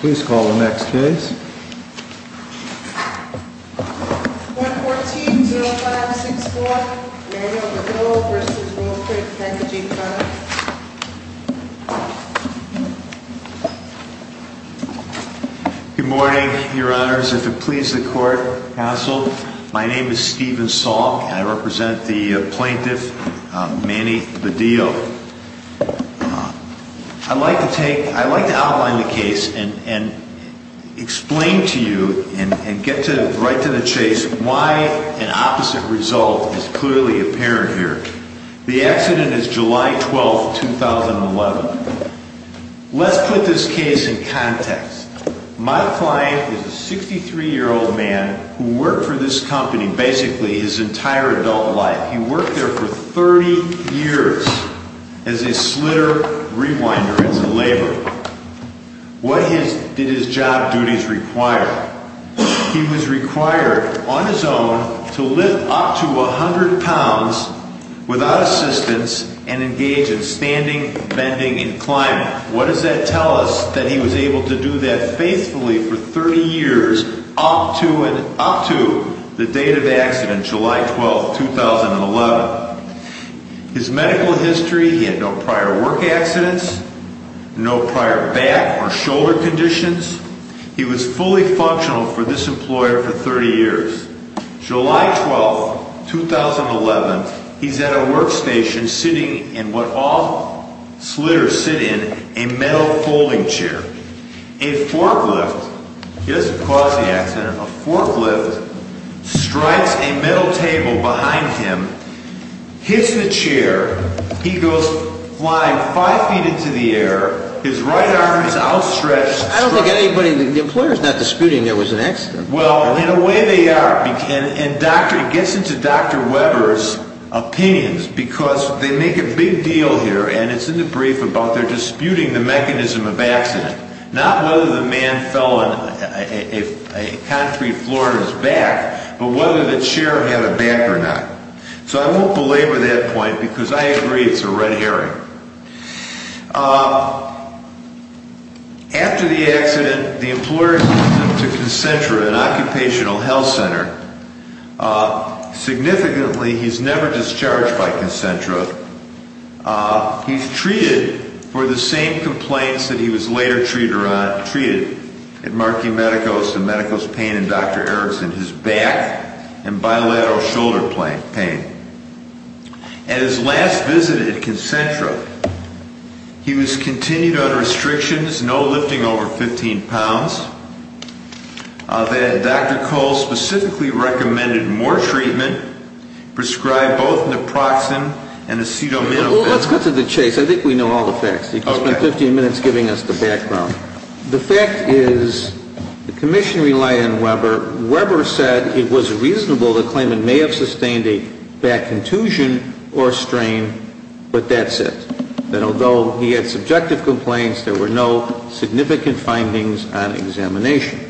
Please call the next case. 1140564, Daniel DeVille v. Workers' Compensation Comm'n Good morning, your honors. If it pleases the court, counsel, my name is Stephen Salk, and I represent the plaintiff, Manny Badillo. I'd like to outline the case and explain to you and get right to the chase why an opposite result is clearly apparent here. The accident is July 12, 2011. Let's put this case in context. My client is a 63-year-old man who worked for this company basically his entire adult life. He worked there for 30 years as a slitter, rewinder, as a laborer. What did his job duties require? He was required on his own to lift up to 100 pounds without assistance and engage in standing, bending, and climbing. What does that tell us that he was able to do that faithfully for 30 years up to the date of the accident, July 12, 2011? His medical history, he had no prior work accidents, no prior back or shoulder conditions. He was fully functional for this employer for 30 years. July 12, 2011, he's at a workstation sitting in what all slitters sit in, a metal folding chair. A forklift, he doesn't cause the accident, a forklift strikes a metal table behind him, hits the chair. He goes flying five feet into the air. His right arm is outstretched. I don't think anybody in the employer is not disputing there was an accident. Well, in a way they are. And it gets into Dr. Weber's opinions because they make a big deal here, and it's in the brief about they're disputing the mechanism of accident, not whether the man fell on a concrete floor on his back, but whether the chair had a back or not. So I won't belabor that point because I agree it's a red herring. After the accident, the employer sent him to Concentra, an occupational health center. Significantly, he's never discharged by Concentra. He's treated for the same complaints that he was later treated at Markey Medicos, the Medicos pain in Dr. Erickson, his back and bilateral shoulder pain. At his last visit at Concentra, he was continued under restrictions, no lifting over 15 pounds. Dr. Cole specifically recommended more treatment, prescribed both naproxen and acetaminophen. Let's cut to the chase. I think we know all the facts. You've spent 15 minutes giving us the background. The fact is the commission relied on Weber. Weber said it was reasonable to claim it may have sustained a back contusion or strain, but that's it, that although he had subjective complaints, there were no significant findings on examination.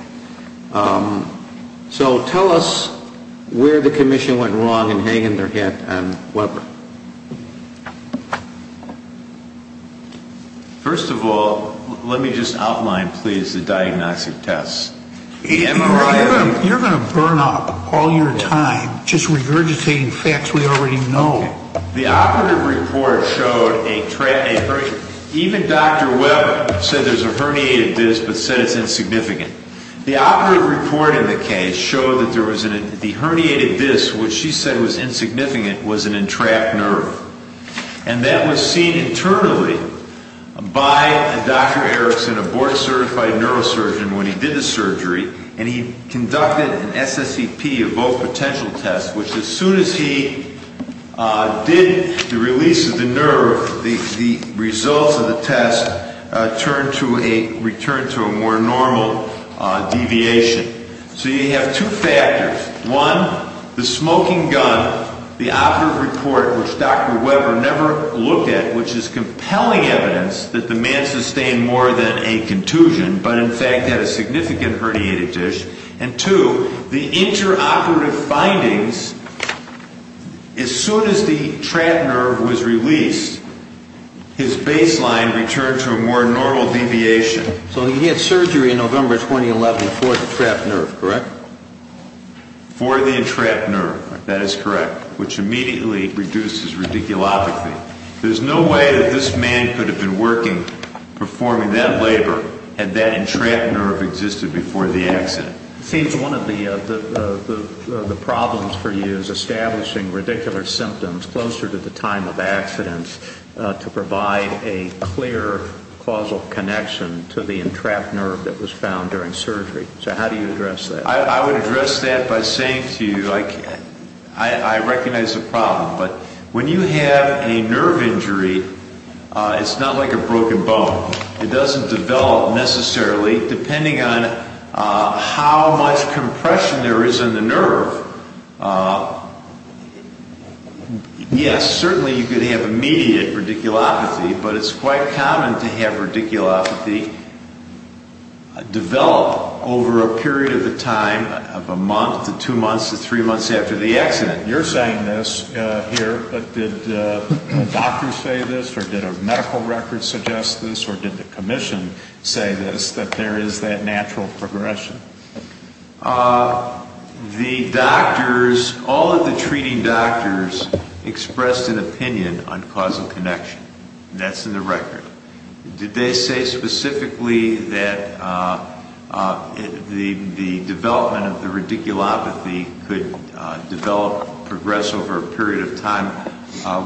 So tell us where the commission went wrong and hang their hat on Weber. First of all, let me just outline, please, the diagnostic tests. You're going to burn up all your time just regurgitating facts we already know. The operative report showed a, even Dr. Weber said there's a herniated disc but said it's insignificant. The operative report in the case showed that the herniated disc, which she said was insignificant, was an entrapped nerve. And that was seen internally by Dr. Erickson, a board certified neurosurgeon, when he did the surgery. And he conducted an SSCP, a both potential test, which as soon as he did the release of the nerve, the results of the test returned to a more normal deviation. So you have two factors. One, the smoking gun, the operative report, which Dr. Weber never looked at, which is compelling evidence that the man sustained more than a contusion, but in fact had a significant herniated disc. And two, the interoperative findings, as soon as the trapped nerve was released, his baseline returned to a more normal deviation. So he had surgery in November 2011 for the trapped nerve, correct? For the entrapped nerve, that is correct, which immediately reduces radiculopathy. There's no way that this man could have been working, performing that labor, had that entrapped nerve existed before the accident. It seems one of the problems for you is establishing radicular symptoms closer to the time of accident to provide a clear causal connection to the entrapped nerve that was found during surgery. So how do you address that? I would address that by saying to you, I recognize the problem. But when you have a nerve injury, it's not like a broken bone. It doesn't develop necessarily, depending on how much compression there is in the nerve. Yes, certainly you could have immediate radiculopathy, but it's quite common to have radiculopathy develop over a period of the time of a month to two months to three months after the accident. You're saying this here, but did a doctor say this, or did a medical record suggest this, or did the commission say this, that there is that natural progression? The doctors, all of the treating doctors expressed an opinion on causal connection, and that's in the record. Did they say specifically that the development of the radiculopathy could develop, progress over a period of time?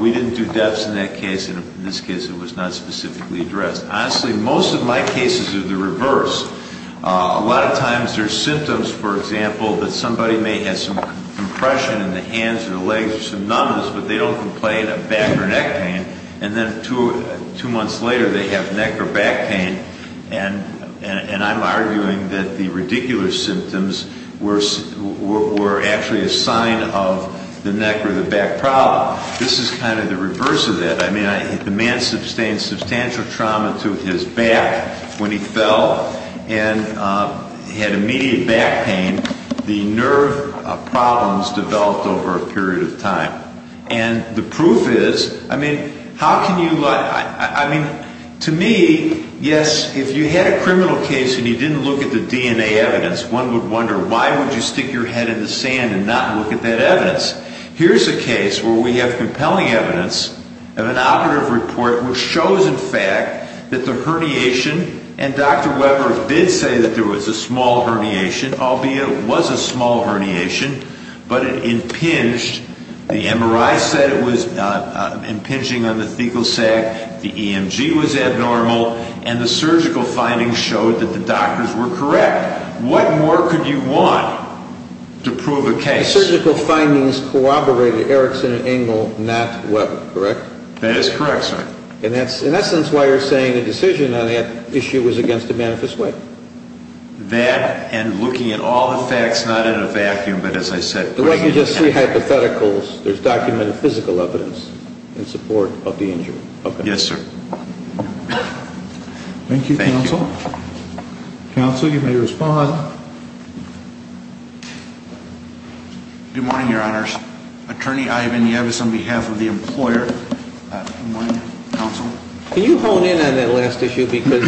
We didn't do depths in that case, and in this case it was not specifically addressed. Honestly, most of my cases are the reverse. A lot of times there are symptoms, for example, that somebody may have some compression in the hands or the legs or some numbness, but they don't complain of back or neck pain, and then two months later they have neck or back pain, and I'm arguing that the radicular symptoms were actually a sign of the neck or the back problem. This is kind of the reverse of that. I mean, the man sustained substantial trauma to his back when he fell, and he had immediate back pain. The nerve problems developed over a period of time, and the proof is, I mean, how can you lie? I mean, to me, yes, if you had a criminal case and you didn't look at the DNA evidence, one would wonder why would you stick your head in the sand and not look at that evidence. Here's a case where we have compelling evidence of an operative report which shows, in fact, that the herniation, and Dr. Weber did say that there was a small herniation, albeit it was a small herniation, but it impinged. The MRI said it was impinging on the fecal sac. The EMG was abnormal, and the surgical findings showed that the doctors were correct. What more could you want to prove a case? That surgical findings corroborated Erickson and Engel, not Weber, correct? That is correct, sir. And that's, in essence, why you're saying the decision on that issue was against a manifest way? That and looking at all the facts, not in a vacuum, but as I said, The way you just see hypotheticals, there's documented physical evidence in support of the injury. Yes, sir. Thank you, counsel. Counsel, you may respond. Good morning, your honors. Attorney Ivan Yavis on behalf of the employer. Good morning, counsel. Can you hone in on that last issue because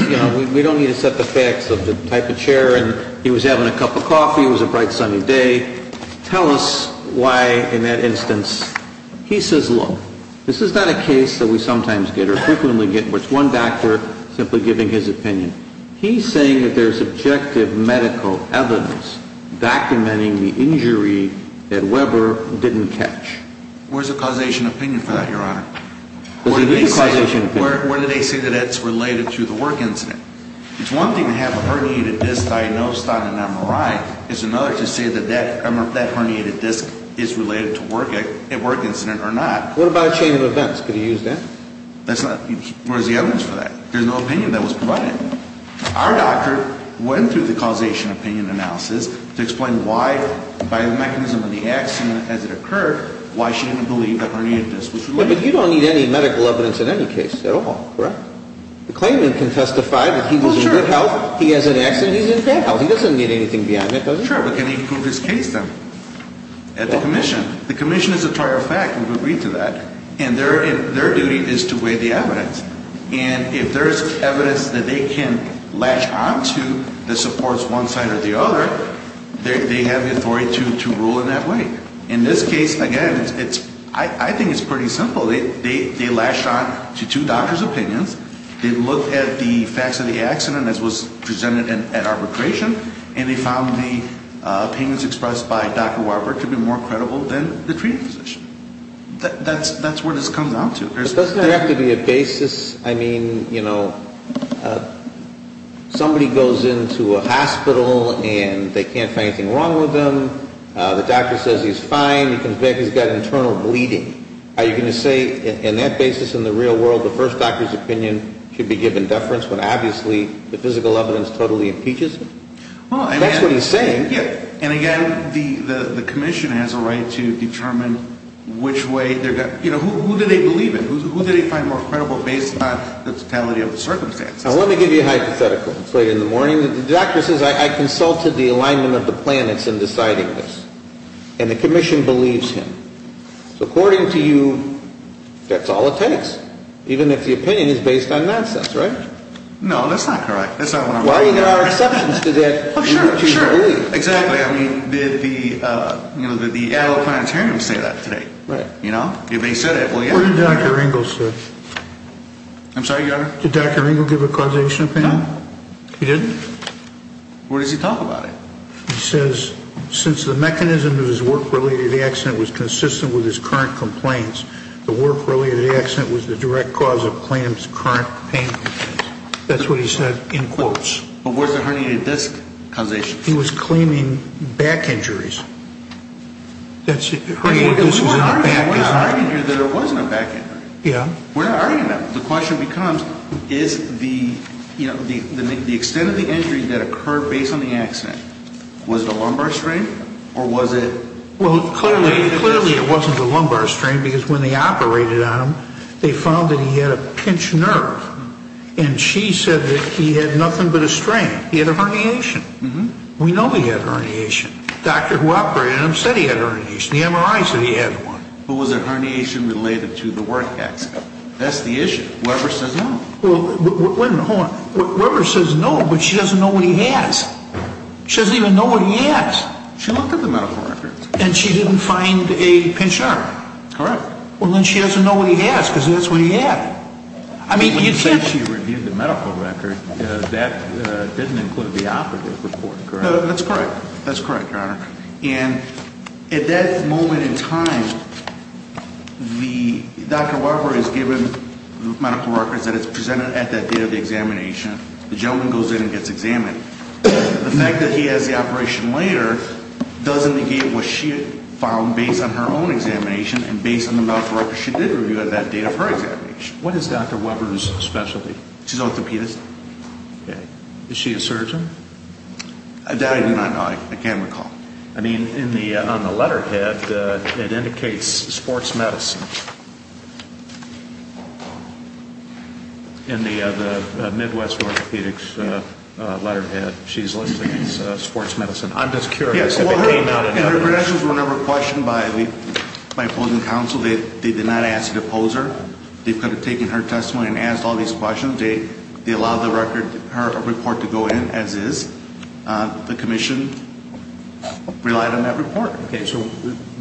we don't need to set the facts of the type of chair, and he was having a cup of coffee, it was a bright sunny day. Tell us why, in that instance, he says, This is not a case that we sometimes get or frequently get where it's one doctor simply giving his opinion. He's saying that there's objective medical evidence documenting the injury that Weber didn't catch. Where's the causation opinion for that, your honor? Where do they say that that's related to the work incident? It's one thing to have a herniated disc diagnosed on an MRI. It's another to say that that herniated disc is related to a work incident or not. What about a chain of events? Could he use that? Where's the evidence for that? There's no opinion that was provided. Our doctor went through the causation opinion analysis to explain why, by the mechanism of the accident as it occurred, why she didn't believe the herniated disc was related. But you don't need any medical evidence in any case at all, correct? The claimant can testify that he was in good health. He has an accident. He's in bad health. He doesn't need anything beyond that, does he? Sure, but can he prove his case then at the commission? The commission is a prior fact. We've agreed to that. And their duty is to weigh the evidence. And if there's evidence that they can latch on to that supports one side or the other, they have the authority to rule in that way. In this case, again, I think it's pretty simple. They latched on to two doctors' opinions. They looked at the facts of the accident as was presented at arbitration, and they found the opinions expressed by Dr. Warburg to be more credible than the treating physician. That's where this comes down to. But doesn't there have to be a basis? I mean, you know, somebody goes into a hospital and they can't find anything wrong with them. The doctor says he's fine. He comes back and he's got internal bleeding. Are you going to say in that basis in the real world the first doctor's opinion should be given deference when obviously the physical evidence totally impeaches him? That's what he's saying. And, again, the commission has a right to determine which way they're going. You know, who do they believe in? Who do they find more credible based on the totality of the circumstances? I want to give you a hypothetical. It's later in the morning. The doctor says, I consulted the alignment of the planets in deciding this. And the commission believes him. So, according to you, that's all it takes, even if the opinion is based on nonsense, right? No, that's not correct. That's not what I'm talking about. Well, you know, there are exceptions to that. Oh, sure, sure. Exactly. I mean, did the, you know, did the Adler Planetarium say that today? Right. You know, if they said it, well, yeah. What did Dr. Ringel say? I'm sorry, Your Honor? Did Dr. Ringel give a causation opinion? No. He didn't? Where does he talk about it? He says, since the mechanism of his work-related accident was consistent with his current complaints, the work-related accident was the direct cause of Clamp's current pain. That's what he said in quotes. But where's the herniated disc causation? He was claiming back injuries. That's herniated disc is in the back. We're arguing here that it wasn't a back injury. Yeah. We're not arguing that. The question becomes, is the, you know, the extent of the injury that occurred based on the accident, was it a lumbar strain or was it? Well, clearly it wasn't a lumbar strain because when they operated on him, they found that he had a pinched nerve. And she said that he had nothing but a strain. He had a herniation. We know he had a herniation. The doctor who operated on him said he had a herniation. The MRI said he had one. But was the herniation related to the work accident? That's the issue. Weber says no. Well, wait a minute. Hold on. Weber says no, but she doesn't know what he has. She doesn't even know what he has. She looked at the medical records. And she didn't find a pinched nerve. Correct. Well, then she doesn't know what he has because that's what he had. I mean, you can't. When you say she reviewed the medical record, that didn't include the operative report, correct? That's correct. That's correct, Your Honor. And at that moment in time, Dr. Weber has given the medical records that it's presented at that day of the examination. The gentleman goes in and gets examined. The fact that he has the operation later doesn't negate what she had found based on her own examination and based on the medical records she did review at that date of her examination. What is Dr. Weber's specialty? She's an orthopedist. Okay. Is she a surgeon? That I do not know. I can't recall. I mean, on the letterhead, it indicates sports medicine. In the Midwest Orthopedics letterhead, she's listed as sports medicine. I'm just curious if it came out in other places. Her questions were never questioned by opposing counsel. They did not ask the opposer. They could have taken her testimony and asked all these questions. They allowed her report to go in as is. The commission relied on that report. Okay. So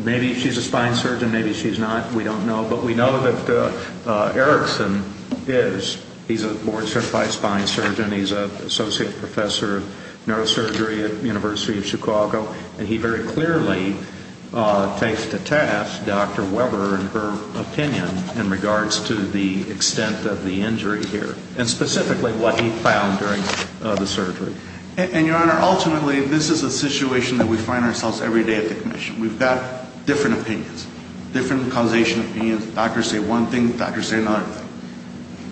maybe she's a spine surgeon, maybe she's not. We don't know. But we know that Erickson is. He's a board-certified spine surgeon. He's an associate professor of neurosurgery at the University of Chicago. And he very clearly takes to task Dr. Weber and her opinion in regards to the extent of the injury here, and specifically what he found during the surgery. And, Your Honor, ultimately, this is a situation that we find ourselves every day at the commission. We've got different opinions, different causation opinions. Doctors say one thing, doctors say another thing.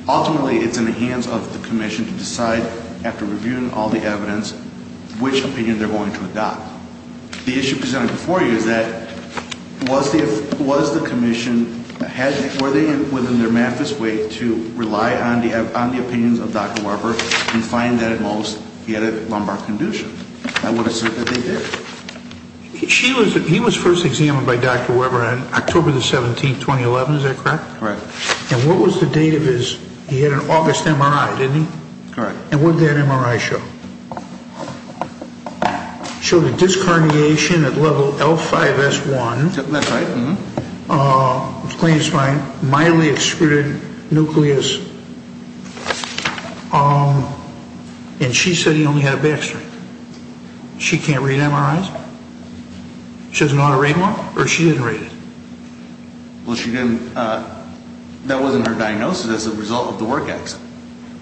Ultimately, it's in the hands of the commission to decide, after reviewing all the evidence, which opinion they're going to adopt. The issue presented before you is that was the commission, were they within their math this way to rely on the opinions of Dr. Weber and find that at most he had a lumbar condition? I would assume that they did. He was first examined by Dr. Weber on October the 17th, 2011. Is that correct? Correct. And what was the date of his, he had an August MRI, didn't he? Correct. And what did that MRI show? It showed a disc herniation at level L5S1. That's right. Clean spine, mildly extruded nucleus. And she said he only had a back strain. She can't read MRIs? She doesn't know how to read them all? Or she didn't read it? Well, she didn't. That wasn't her diagnosis as a result of the work accident.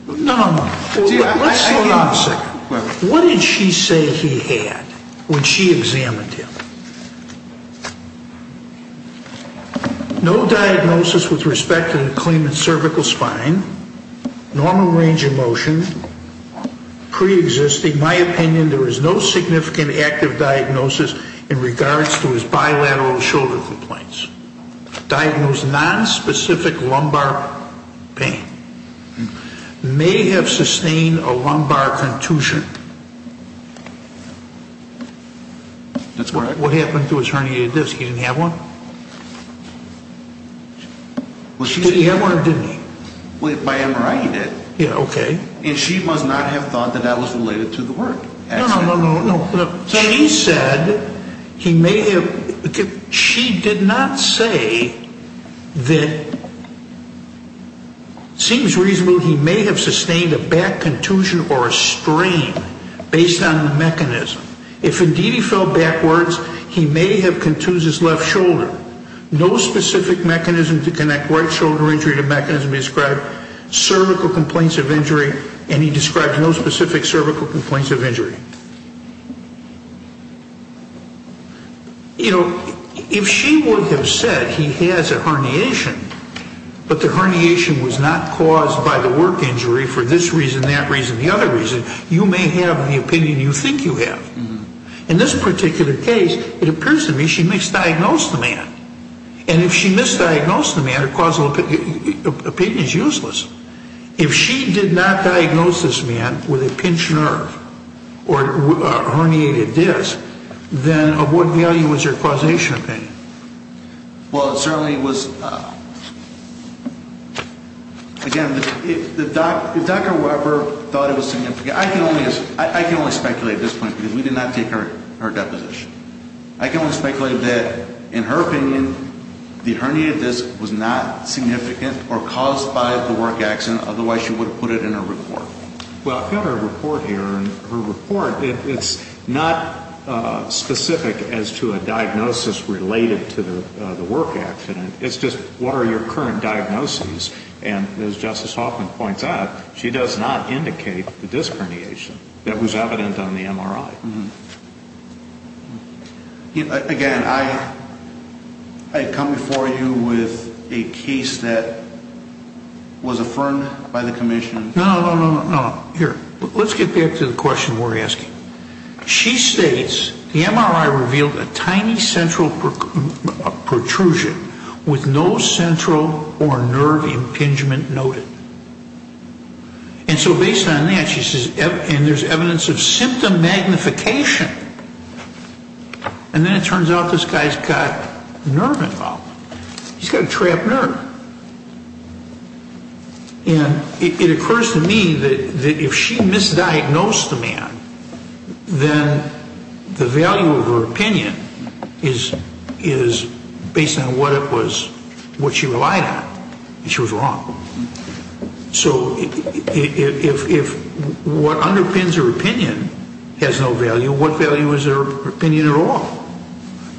No, no, no. Let's slow down a second. What did she say he had when she examined him? No diagnosis with respect to the clean and cervical spine, normal range of motion, preexisting. My opinion, there was no significant active diagnosis in regards to his bilateral shoulder complaints. Diagnosed nonspecific lumbar pain. May have sustained a lumbar contusion. That's correct. What happened to his herniated disc? He didn't have one? Did he have one or didn't he? By MRI, he did. Okay. And she must not have thought that that was related to the work accident. No, no, no. She did not say that it seems reasonable he may have sustained a back contusion or a strain based on the mechanism. If, indeed, he fell backwards, he may have contused his left shoulder. No specific mechanism to connect right shoulder injury to mechanism described cervical complaints of injury, and he described no specific cervical complaints of injury. You know, if she would have said he has a herniation, but the herniation was not caused by the work injury for this reason, that reason, the other reason, you may have the opinion you think you have. In this particular case, it appears to me she misdiagnosed the man. And if she misdiagnosed the man, her causal opinion is useless. If she did not diagnose this man with a pinched nerve or a herniated disc, then of what value was her causation opinion? Well, it certainly was, again, if Dr. Weber thought it was significant, I can only speculate at this point because we did not take her deposition. I can only speculate that, in her opinion, the herniated disc was not significant or caused by the work accident, otherwise she would have put it in her report. Well, I've got her report here, and her report, it's not specific as to a diagnosis related to the work accident. It's just what are your current diagnoses. And as Justice Hoffman points out, she does not indicate the disc herniation that was evident on the MRI. Again, I come before you with a case that was affirmed by the commission. No, no, no, no, no. Here, let's get back to the question we're asking. She states the MRI revealed a tiny central protrusion with no central or nerve impingement noted. And so based on that, she says, and there's evidence of symptom magnification, and then it turns out this guy's got nerve involvement. He's got a trapped nerve. And it occurs to me that if she misdiagnosed the man, then the value of her opinion is based on what she relied on, and she was wrong. So if what underpins her opinion has no value, what value is her opinion at all?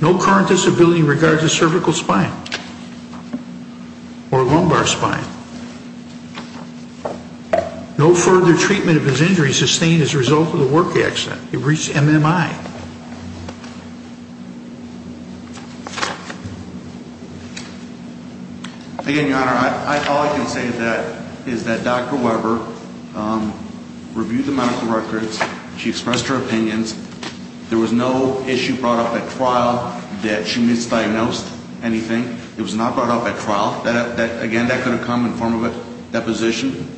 No current disability in regards to cervical spine or lumbar spine. No further treatment of his injury sustained as a result of the work accident. It reached MMI. Again, Your Honor, all I can say is that Dr. Weber reviewed the medical records. She expressed her opinions. There was no issue brought up at trial that she misdiagnosed anything. It was not brought up at trial. Again, that could have come in the form of a deposition.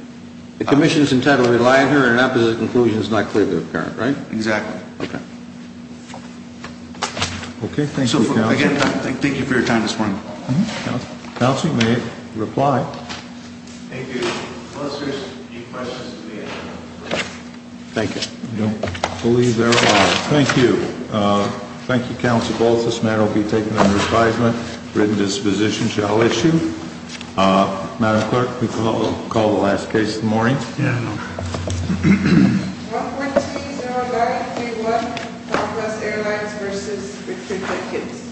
The commission's intent of relying on her and an opposite conclusion is not clearly apparent, right? Exactly. Okay. Okay, thank you, counsel. Again, thank you for your time this morning. Counsel, you may reply. Thank you. Unless there's any questions to be answered. Thank you. I don't believe there are. Thank you. Thank you, counsel, both. This matter will be taken under advisement. Written disposition shall issue. Madam Clerk, we call the last case of the morning. Yeah, I know. 14-09-31, Douglas Airlines v. Richard Jenkins.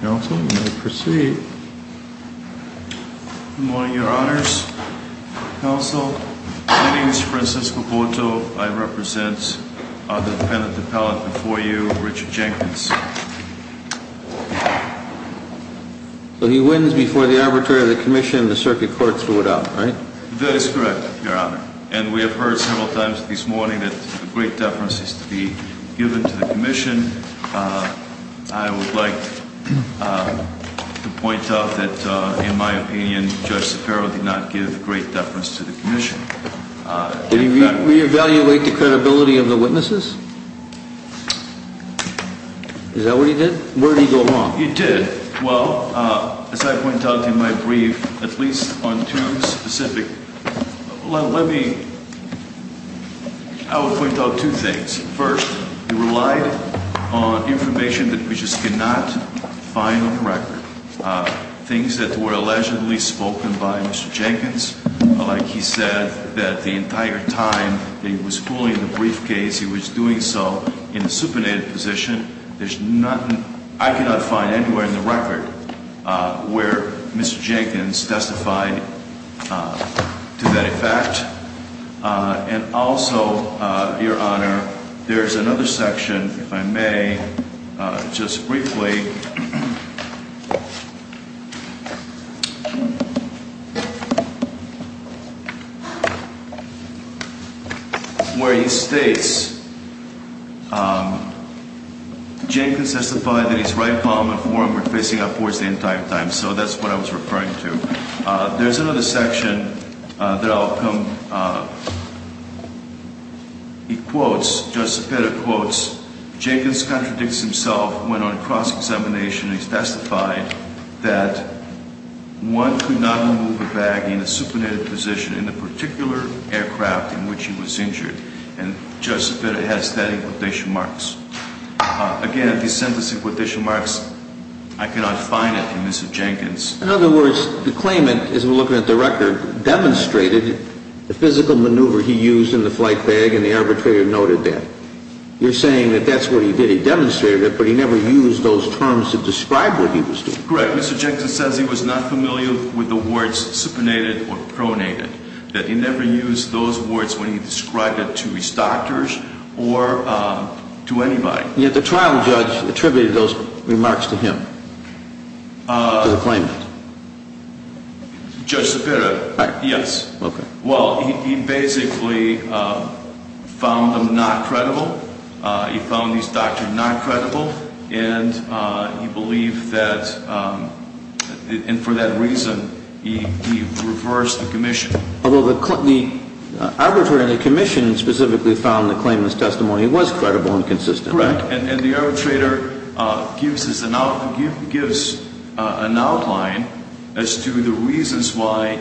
Counsel, you may proceed. Good morning, Your Honors. Counsel, my name is Francisco Porto. I represent the defendant appellant before you, Richard Jenkins. So he wins before the arbitrary of the commission and the circuit courts rule it out, right? That is correct, Your Honor. And we have heard several times this morning that the great deference is to be given to the commission. I would like to point out that, in my opinion, Judge Saffaro did not give great deference to the commission. Did he reevaluate the credibility of the witnesses? Is that what he did? Where did he go wrong? He did. Well, as I point out in my brief, at least on two specific – let me – I will point out two things. First, he relied on information that we just cannot find on record, things that were allegedly spoken by Mr. Jenkins. Like he said that the entire time that he was fooling the briefcase, he was doing so in a supinated position. There's nothing – I cannot find anywhere in the record where Mr. Jenkins testified to that effect. Jenkins testified that his right palm and forearm were facing upwards the entire time. So that's what I was referring to. There's another section that I'll come – he quotes, Judge Sepeda quotes, Jenkins contradicts himself when on cross-examination he testified that one could not remove a bag in a supinated position in the particular aircraft in which he was injured. And Judge Sepeda has that in quotation marks. Again, if he sends us in quotation marks, I cannot find it in Mr. Jenkins. In other words, the claimant, as we're looking at the record, demonstrated the physical maneuver he used in the flight bag, and the arbitrator noted that. You're saying that that's what he did. He demonstrated it, but he never used those terms to describe what he was doing. Correct. Mr. Jenkins says he was not familiar with the words supinated or pronated, that he never used those words when he described it to his doctors or to anybody. Yet the trial judge attributed those remarks to him, to the claimant. Judge Sepeda, yes. Well, he basically found them not credible. He found his doctor not credible, and he believed that – and for that reason, he reversed the commission. Although the arbitrator in the commission specifically found the claimant's testimony was credible and consistent. Correct. And the arbitrator gives an outline as to the reasons why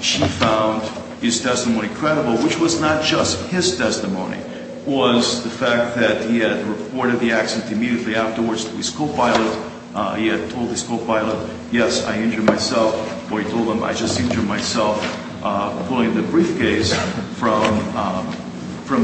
she found his testimony credible, which was not just his testimony, was the fact that he had reported the accident immediately afterwards to his co-pilot. He had told his co-pilot, yes, I injured myself, or he told him, I just injured myself, pulling the briefcase from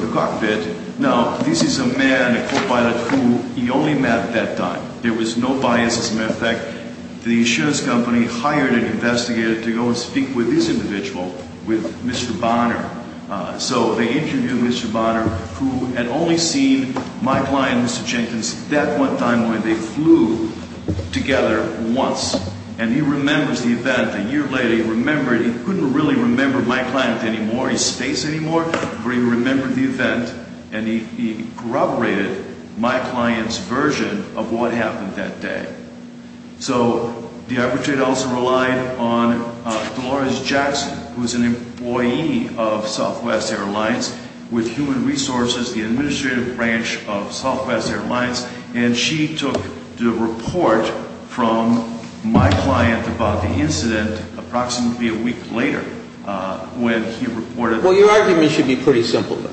the cockpit. Now, this is a man, a co-pilot, who he only met at that time. There was no bias. As a matter of fact, the insurance company hired an investigator to go and speak with this individual, with Mr. Bonner. So they interviewed Mr. Bonner, who had only seen my client, Mr. Jenkins, that one time when they flew together once. And he remembers the event. A year later, he remembered. He couldn't really remember my client anymore, his face anymore, but he remembered the event. And he corroborated my client's version of what happened that day. So the arbitrator also relied on Dolores Jackson, who is an employee of Southwest Airlines with Human Resources, the administrative branch of Southwest Airlines. And she took the report from my client about the incident approximately a week later when he reported. Well, your argument should be pretty simple, though.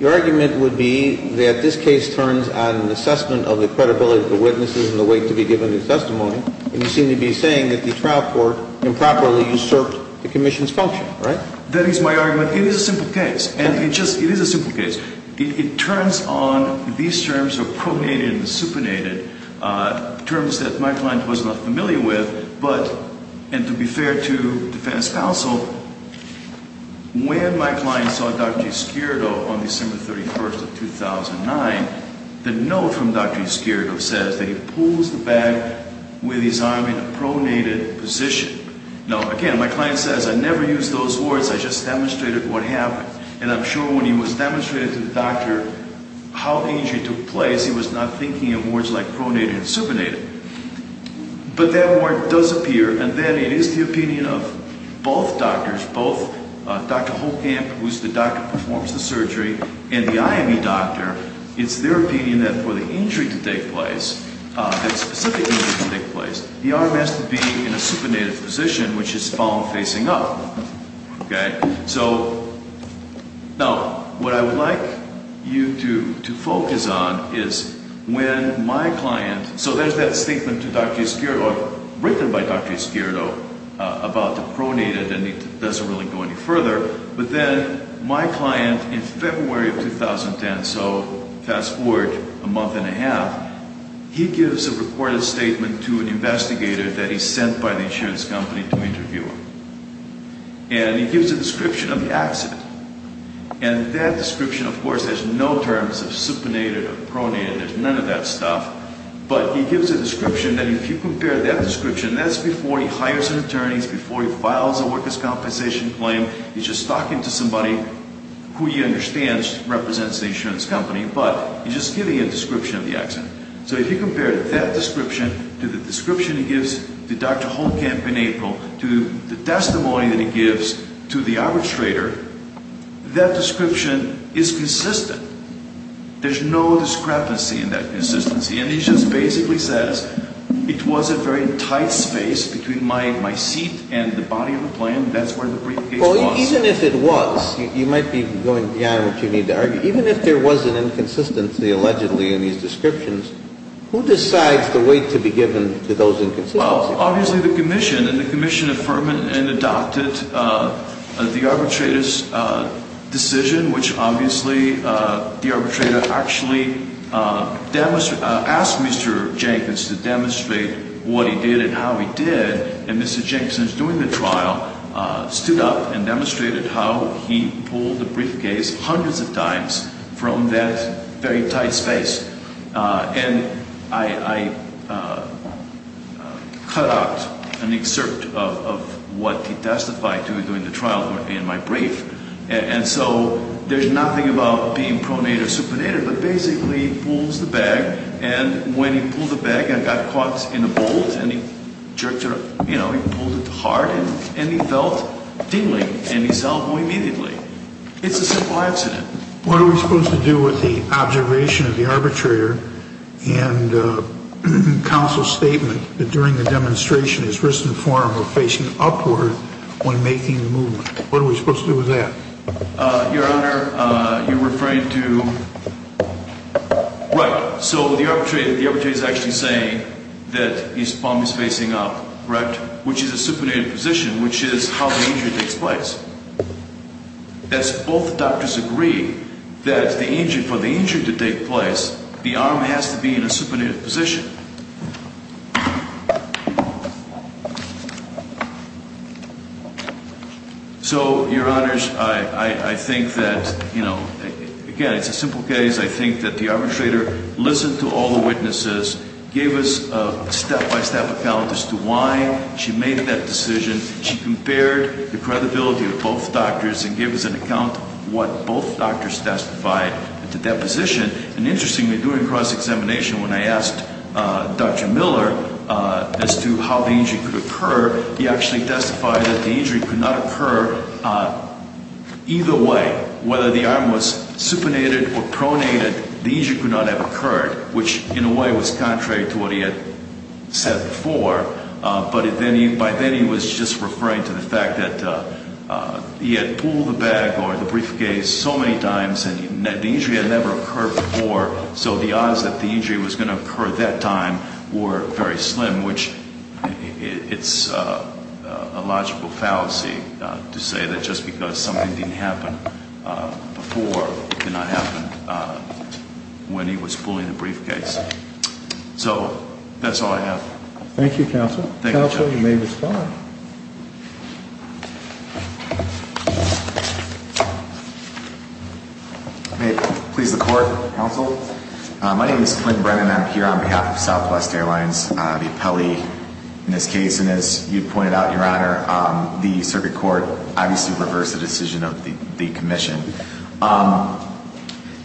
Your argument would be that this case turns on an assessment of the credibility of the witnesses and the weight to be given to the testimony. And you seem to be saying that the trial court improperly usurped the commission's function, right? That is my argument. It is a simple case. And it just – it is a simple case. It turns on these terms of pronated and supinated, terms that my client was not familiar with. But – and to be fair to defense counsel, when my client saw Dr. Escurido on December 31st of 2009, the note from Dr. Escurido says that he pulls the bag with his arm in a pronated position. Now, again, my client says, I never used those words. I just demonstrated what happened. And I'm sure when he was demonstrating to the doctor how the injury took place, he was not thinking in words like pronated and supinated. But that word does appear. And then it is the opinion of both doctors, both Dr. Holkamp, who is the doctor who performs the surgery, and the IME doctor. It's their opinion that for the injury to take place, that specific injury to take place, the arm has to be in a supinated position, which is found facing up. Okay? So now what I would like you to focus on is when my client – so there's that statement to Dr. Escurido, written by Dr. Escurido, about the pronated. And it doesn't really go any further. But then my client, in February of 2010, so fast forward a month and a half, he gives a recorded statement to an investigator that he sent by the insurance company to interview him. And he gives a description of the accident. And that description, of course, has no terms of supinated or pronated. There's none of that stuff. But he gives a description that if you compare that description – that's before he hires an attorney, that's before he files a workers' compensation claim. He's just talking to somebody who he understands represents the insurance company, but he's just giving a description of the accident. So if you compare that description to the description he gives to Dr. Holmkamp in April, to the testimony that he gives to the arbitrator, that description is consistent. There's no discrepancy in that consistency. And he just basically says, it was a very tight space between my seat and the body of the plane. That's where the briefcase was. Well, even if it was, you might be going beyond what you need to argue. Even if there was an inconsistency, allegedly, in these descriptions, who decides the weight to be given to those inconsistencies? Well, obviously the commission. And the commission affirmed and adopted the arbitrator's decision, which obviously the arbitrator actually asked Mr. Jenkins to demonstrate what he did and how he did. And Mr. Jenkins, during the trial, stood up and demonstrated how he pulled the briefcase hundreds of times from that very tight space. And I cut out an excerpt of what he testified to during the trial in my brief. And so there's nothing about being pronated or supinated, but basically he pulls the bag. And when he pulled the bag and got caught in a bolt and jerked it, you know, he pulled it hard and he felt tingling. And he's elbowed immediately. It's a simple accident. What are we supposed to do with the observation of the arbitrator and counsel's statement that during the demonstration his wrist and forearm were facing upward when making the movement? What are we supposed to do with that? Your Honor, you're referring to? Right. So the arbitrator is actually saying that his palm is facing up, right, which is a supinated position, which is how the injury takes place. As both doctors agree that for the injury to take place, the arm has to be in a supinated position. So, Your Honors, I think that, you know, again, it's a simple case. I think that the arbitrator listened to all the witnesses, gave us a step-by-step account as to why she made that decision. She compared the credibility of both doctors and gave us an account of what both doctors testified at the deposition. And interestingly, during cross-examination, when I asked Dr. Miller as to how the injury could occur, he actually testified that the injury could not occur either way. Whether the arm was supinated or pronated, the injury could not have occurred, which in a way was contrary to what he had said before. But by then he was just referring to the fact that he had pulled the bag or the briefcase so many times and the injury had never occurred before, so the odds that the injury was going to occur that time were very slim, which it's a logical fallacy to say that just because something didn't happen before, it did not happen when he was pulling the briefcase. So that's all I have. Thank you, Counsel. Counsel, you may respond. May it please the Court, Counsel? My name is Clint Brennan. I'm here on behalf of Southwest Airlines, the appellee in this case. And as you pointed out, Your Honor, the Circuit Court obviously reversed the decision of the Commission.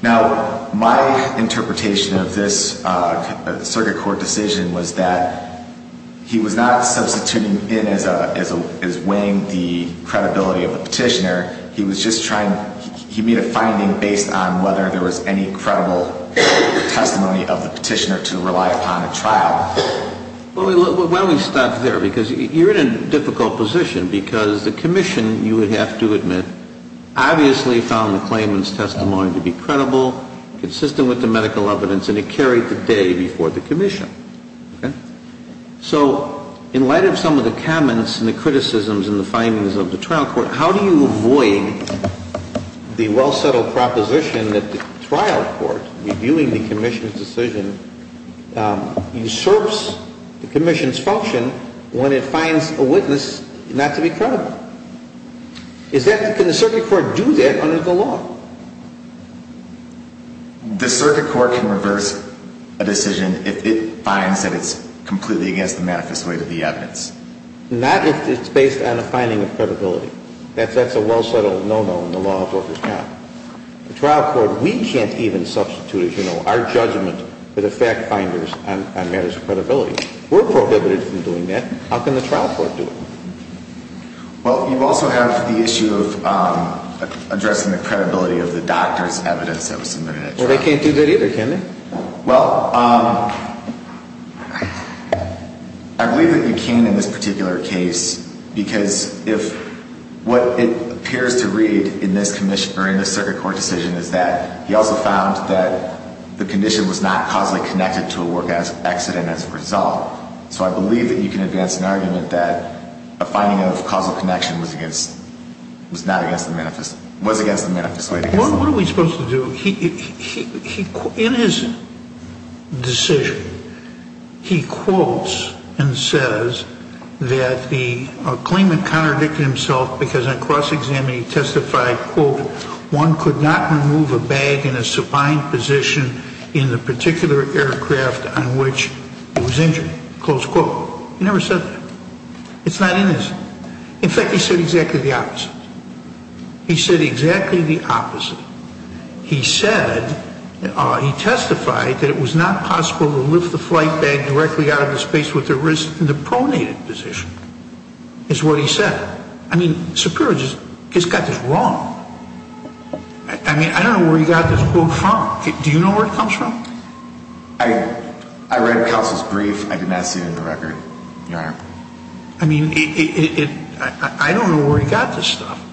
Now, my interpretation of this Circuit Court decision was that he was not substituting in as weighing the credibility of the petitioner. He was just trying, he made a finding based on whether there was any credible testimony of the petitioner to rely upon at trial. Why don't we stop there? Because you're in a difficult position because the Commission, you would have to admit, obviously found the claimant's testimony to be credible, consistent with the medical evidence, and it carried the day before the Commission. So in light of some of the comments and the criticisms and the findings of the trial court, how do you avoid the well-settled proposition that the trial court, reviewing the Commission's decision, usurps the Commission's function when it finds a witness not to be credible? Is that, can the Circuit Court do that under the law? The Circuit Court can reverse a decision if it finds that it's completely against the manifest weight of the evidence. Not if it's based on a finding of credibility. That's a well-settled no-no in the law of what is not. The trial court, we can't even substitute, you know, our judgment for the fact finders on matters of credibility. We're prohibited from doing that. How can the trial court do it? Well, you also have the issue of addressing the credibility of the doctor's evidence that was submitted at trial. Well, they can't do that either, can they? Well, I believe that you came in this particular case because what it appears to read in this Circuit Court decision is that he also found that the condition was not causally connected to a work accident as a result. So I believe that you can advance an argument that a finding of causal connection was against the manifest weight. What are we supposed to do? In his decision, he quotes and says that the claimant contradicted himself because on cross-examining he testified, quote, one could not remove a bag in a supine position in the particular aircraft on which it was injured, close quote. He never said that. It's not in his. In fact, he said exactly the opposite. He said exactly the opposite. He said, he testified that it was not possible to lift the flight bag directly out of the space with the wrist in the pronated position, is what he said. I mean, Superior just got this wrong. I mean, I don't know where he got this quote from. Do you know where it comes from? I read Kelsey's brief. I did not see it in the record, Your Honor. I mean, it I don't know where he got this stuff.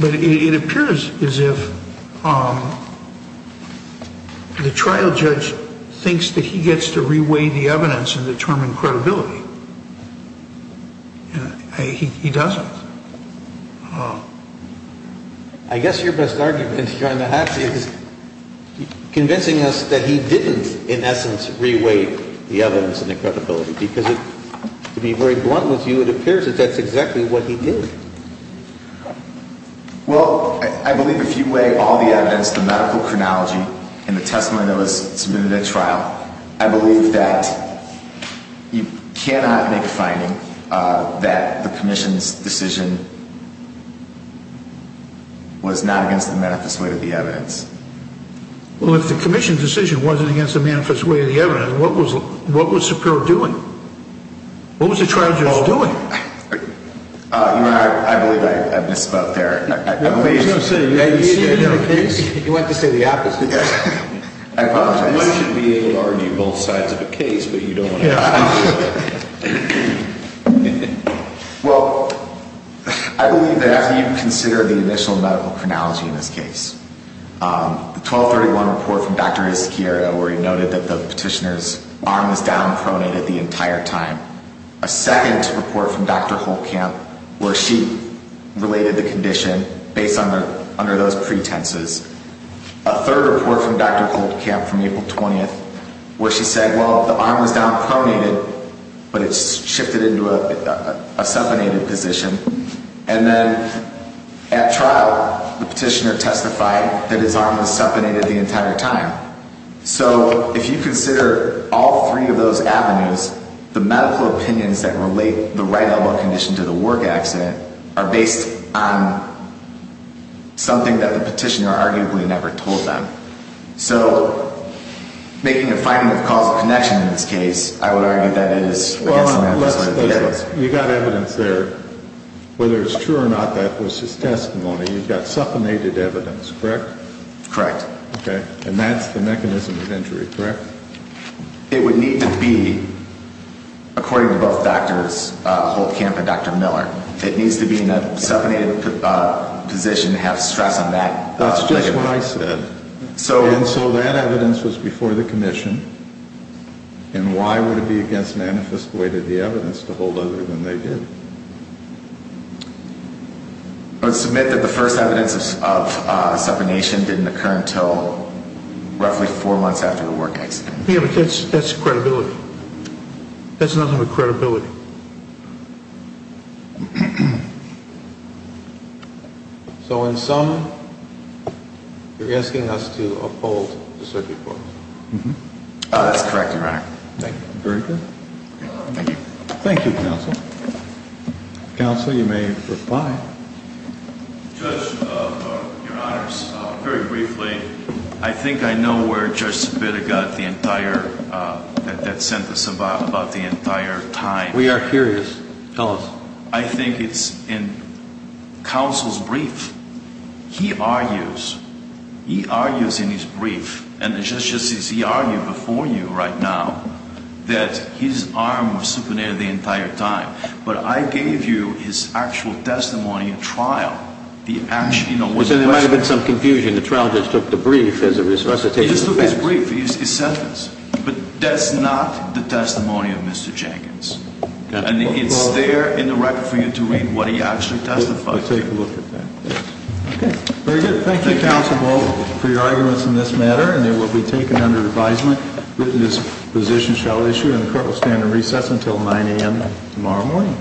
But it appears as if the trial judge thinks that he gets to reweigh the evidence and determine credibility. He doesn't. I guess your best argument, Your Honor, is convincing us that he didn't, in essence, reweigh the evidence and the credibility. Because to be very blunt with you, it appears that that's exactly what he did. Well, I believe if you weigh all the evidence, the medical chronology and the testimony that was submitted at trial, I believe that you cannot make a finding that the commission's decision was not against the manifest way of the evidence. Well, if the commission's decision wasn't against the manifest way of the evidence, what was Superior doing? What was the trial judge doing? Your Honor, I believe I misspoke there. You went to say the opposite. I apologize. One should be able to argue both sides of a case, but you don't want to do that. Well, I believe that after you've considered the initial medical chronology in this case, the 1231 report from Dr. Izquierdo where he noted that the petitioner's arm was down pronated the entire time, a second report from Dr. Holtkamp where she related the condition based under those pretenses, a third report from Dr. Holtkamp from April 20th where she said, well, the arm was down pronated, but it's shifted into a supinated position. And then at trial, the petitioner testified that his arm was supinated the entire time. So if you consider all three of those avenues, the medical opinions that relate the right elbow condition to the work accident are based on something that the petitioner arguably never told them. So making a finding of causal connection in this case, I would argue that it is against the medical sort of evidence. Your Honor, you've got evidence there. Whether it's true or not, that was his testimony. You've got supinated evidence, correct? Correct. Okay. And that's the mechanism of injury, correct? It would need to be, according to both Drs. Holtkamp and Dr. Miller, it needs to be in a supinated position to have stress on that. That's just what I said. And so that evidence was before the commission. And why would it be against manifest way to the evidence to hold other than they did? I would submit that the first evidence of supination didn't occur until roughly four months after the work accident. Yeah, but that's credibility. That's nothing but credibility. So in sum, you're asking us to uphold the circuit board? Mm-hmm. That's correct, Your Honor. Very good. Thank you. Thank you, counsel. Counsel, you may reply. Judge, Your Honors, very briefly, I think I know where Judge Zepeda got that sentence about the entire time. We are curious. Tell us. He argues. He argues in his brief. And it's just as he argued before you right now that his arm was supinated the entire time. But I gave you his actual testimony in trial. There might have been some confusion. The trial just took the brief as a recitation. He just took his brief, his sentence. But that's not the testimony of Mr. Jenkins. And it's there in the record for you to read what he actually testified to. So take a look at that. Okay. Very good. Thank you, counsel, for your arguments in this matter. And they will be taken under advisement. Witness positions shall issue, and the court will stand in recess until 9 a.m. tomorrow morning.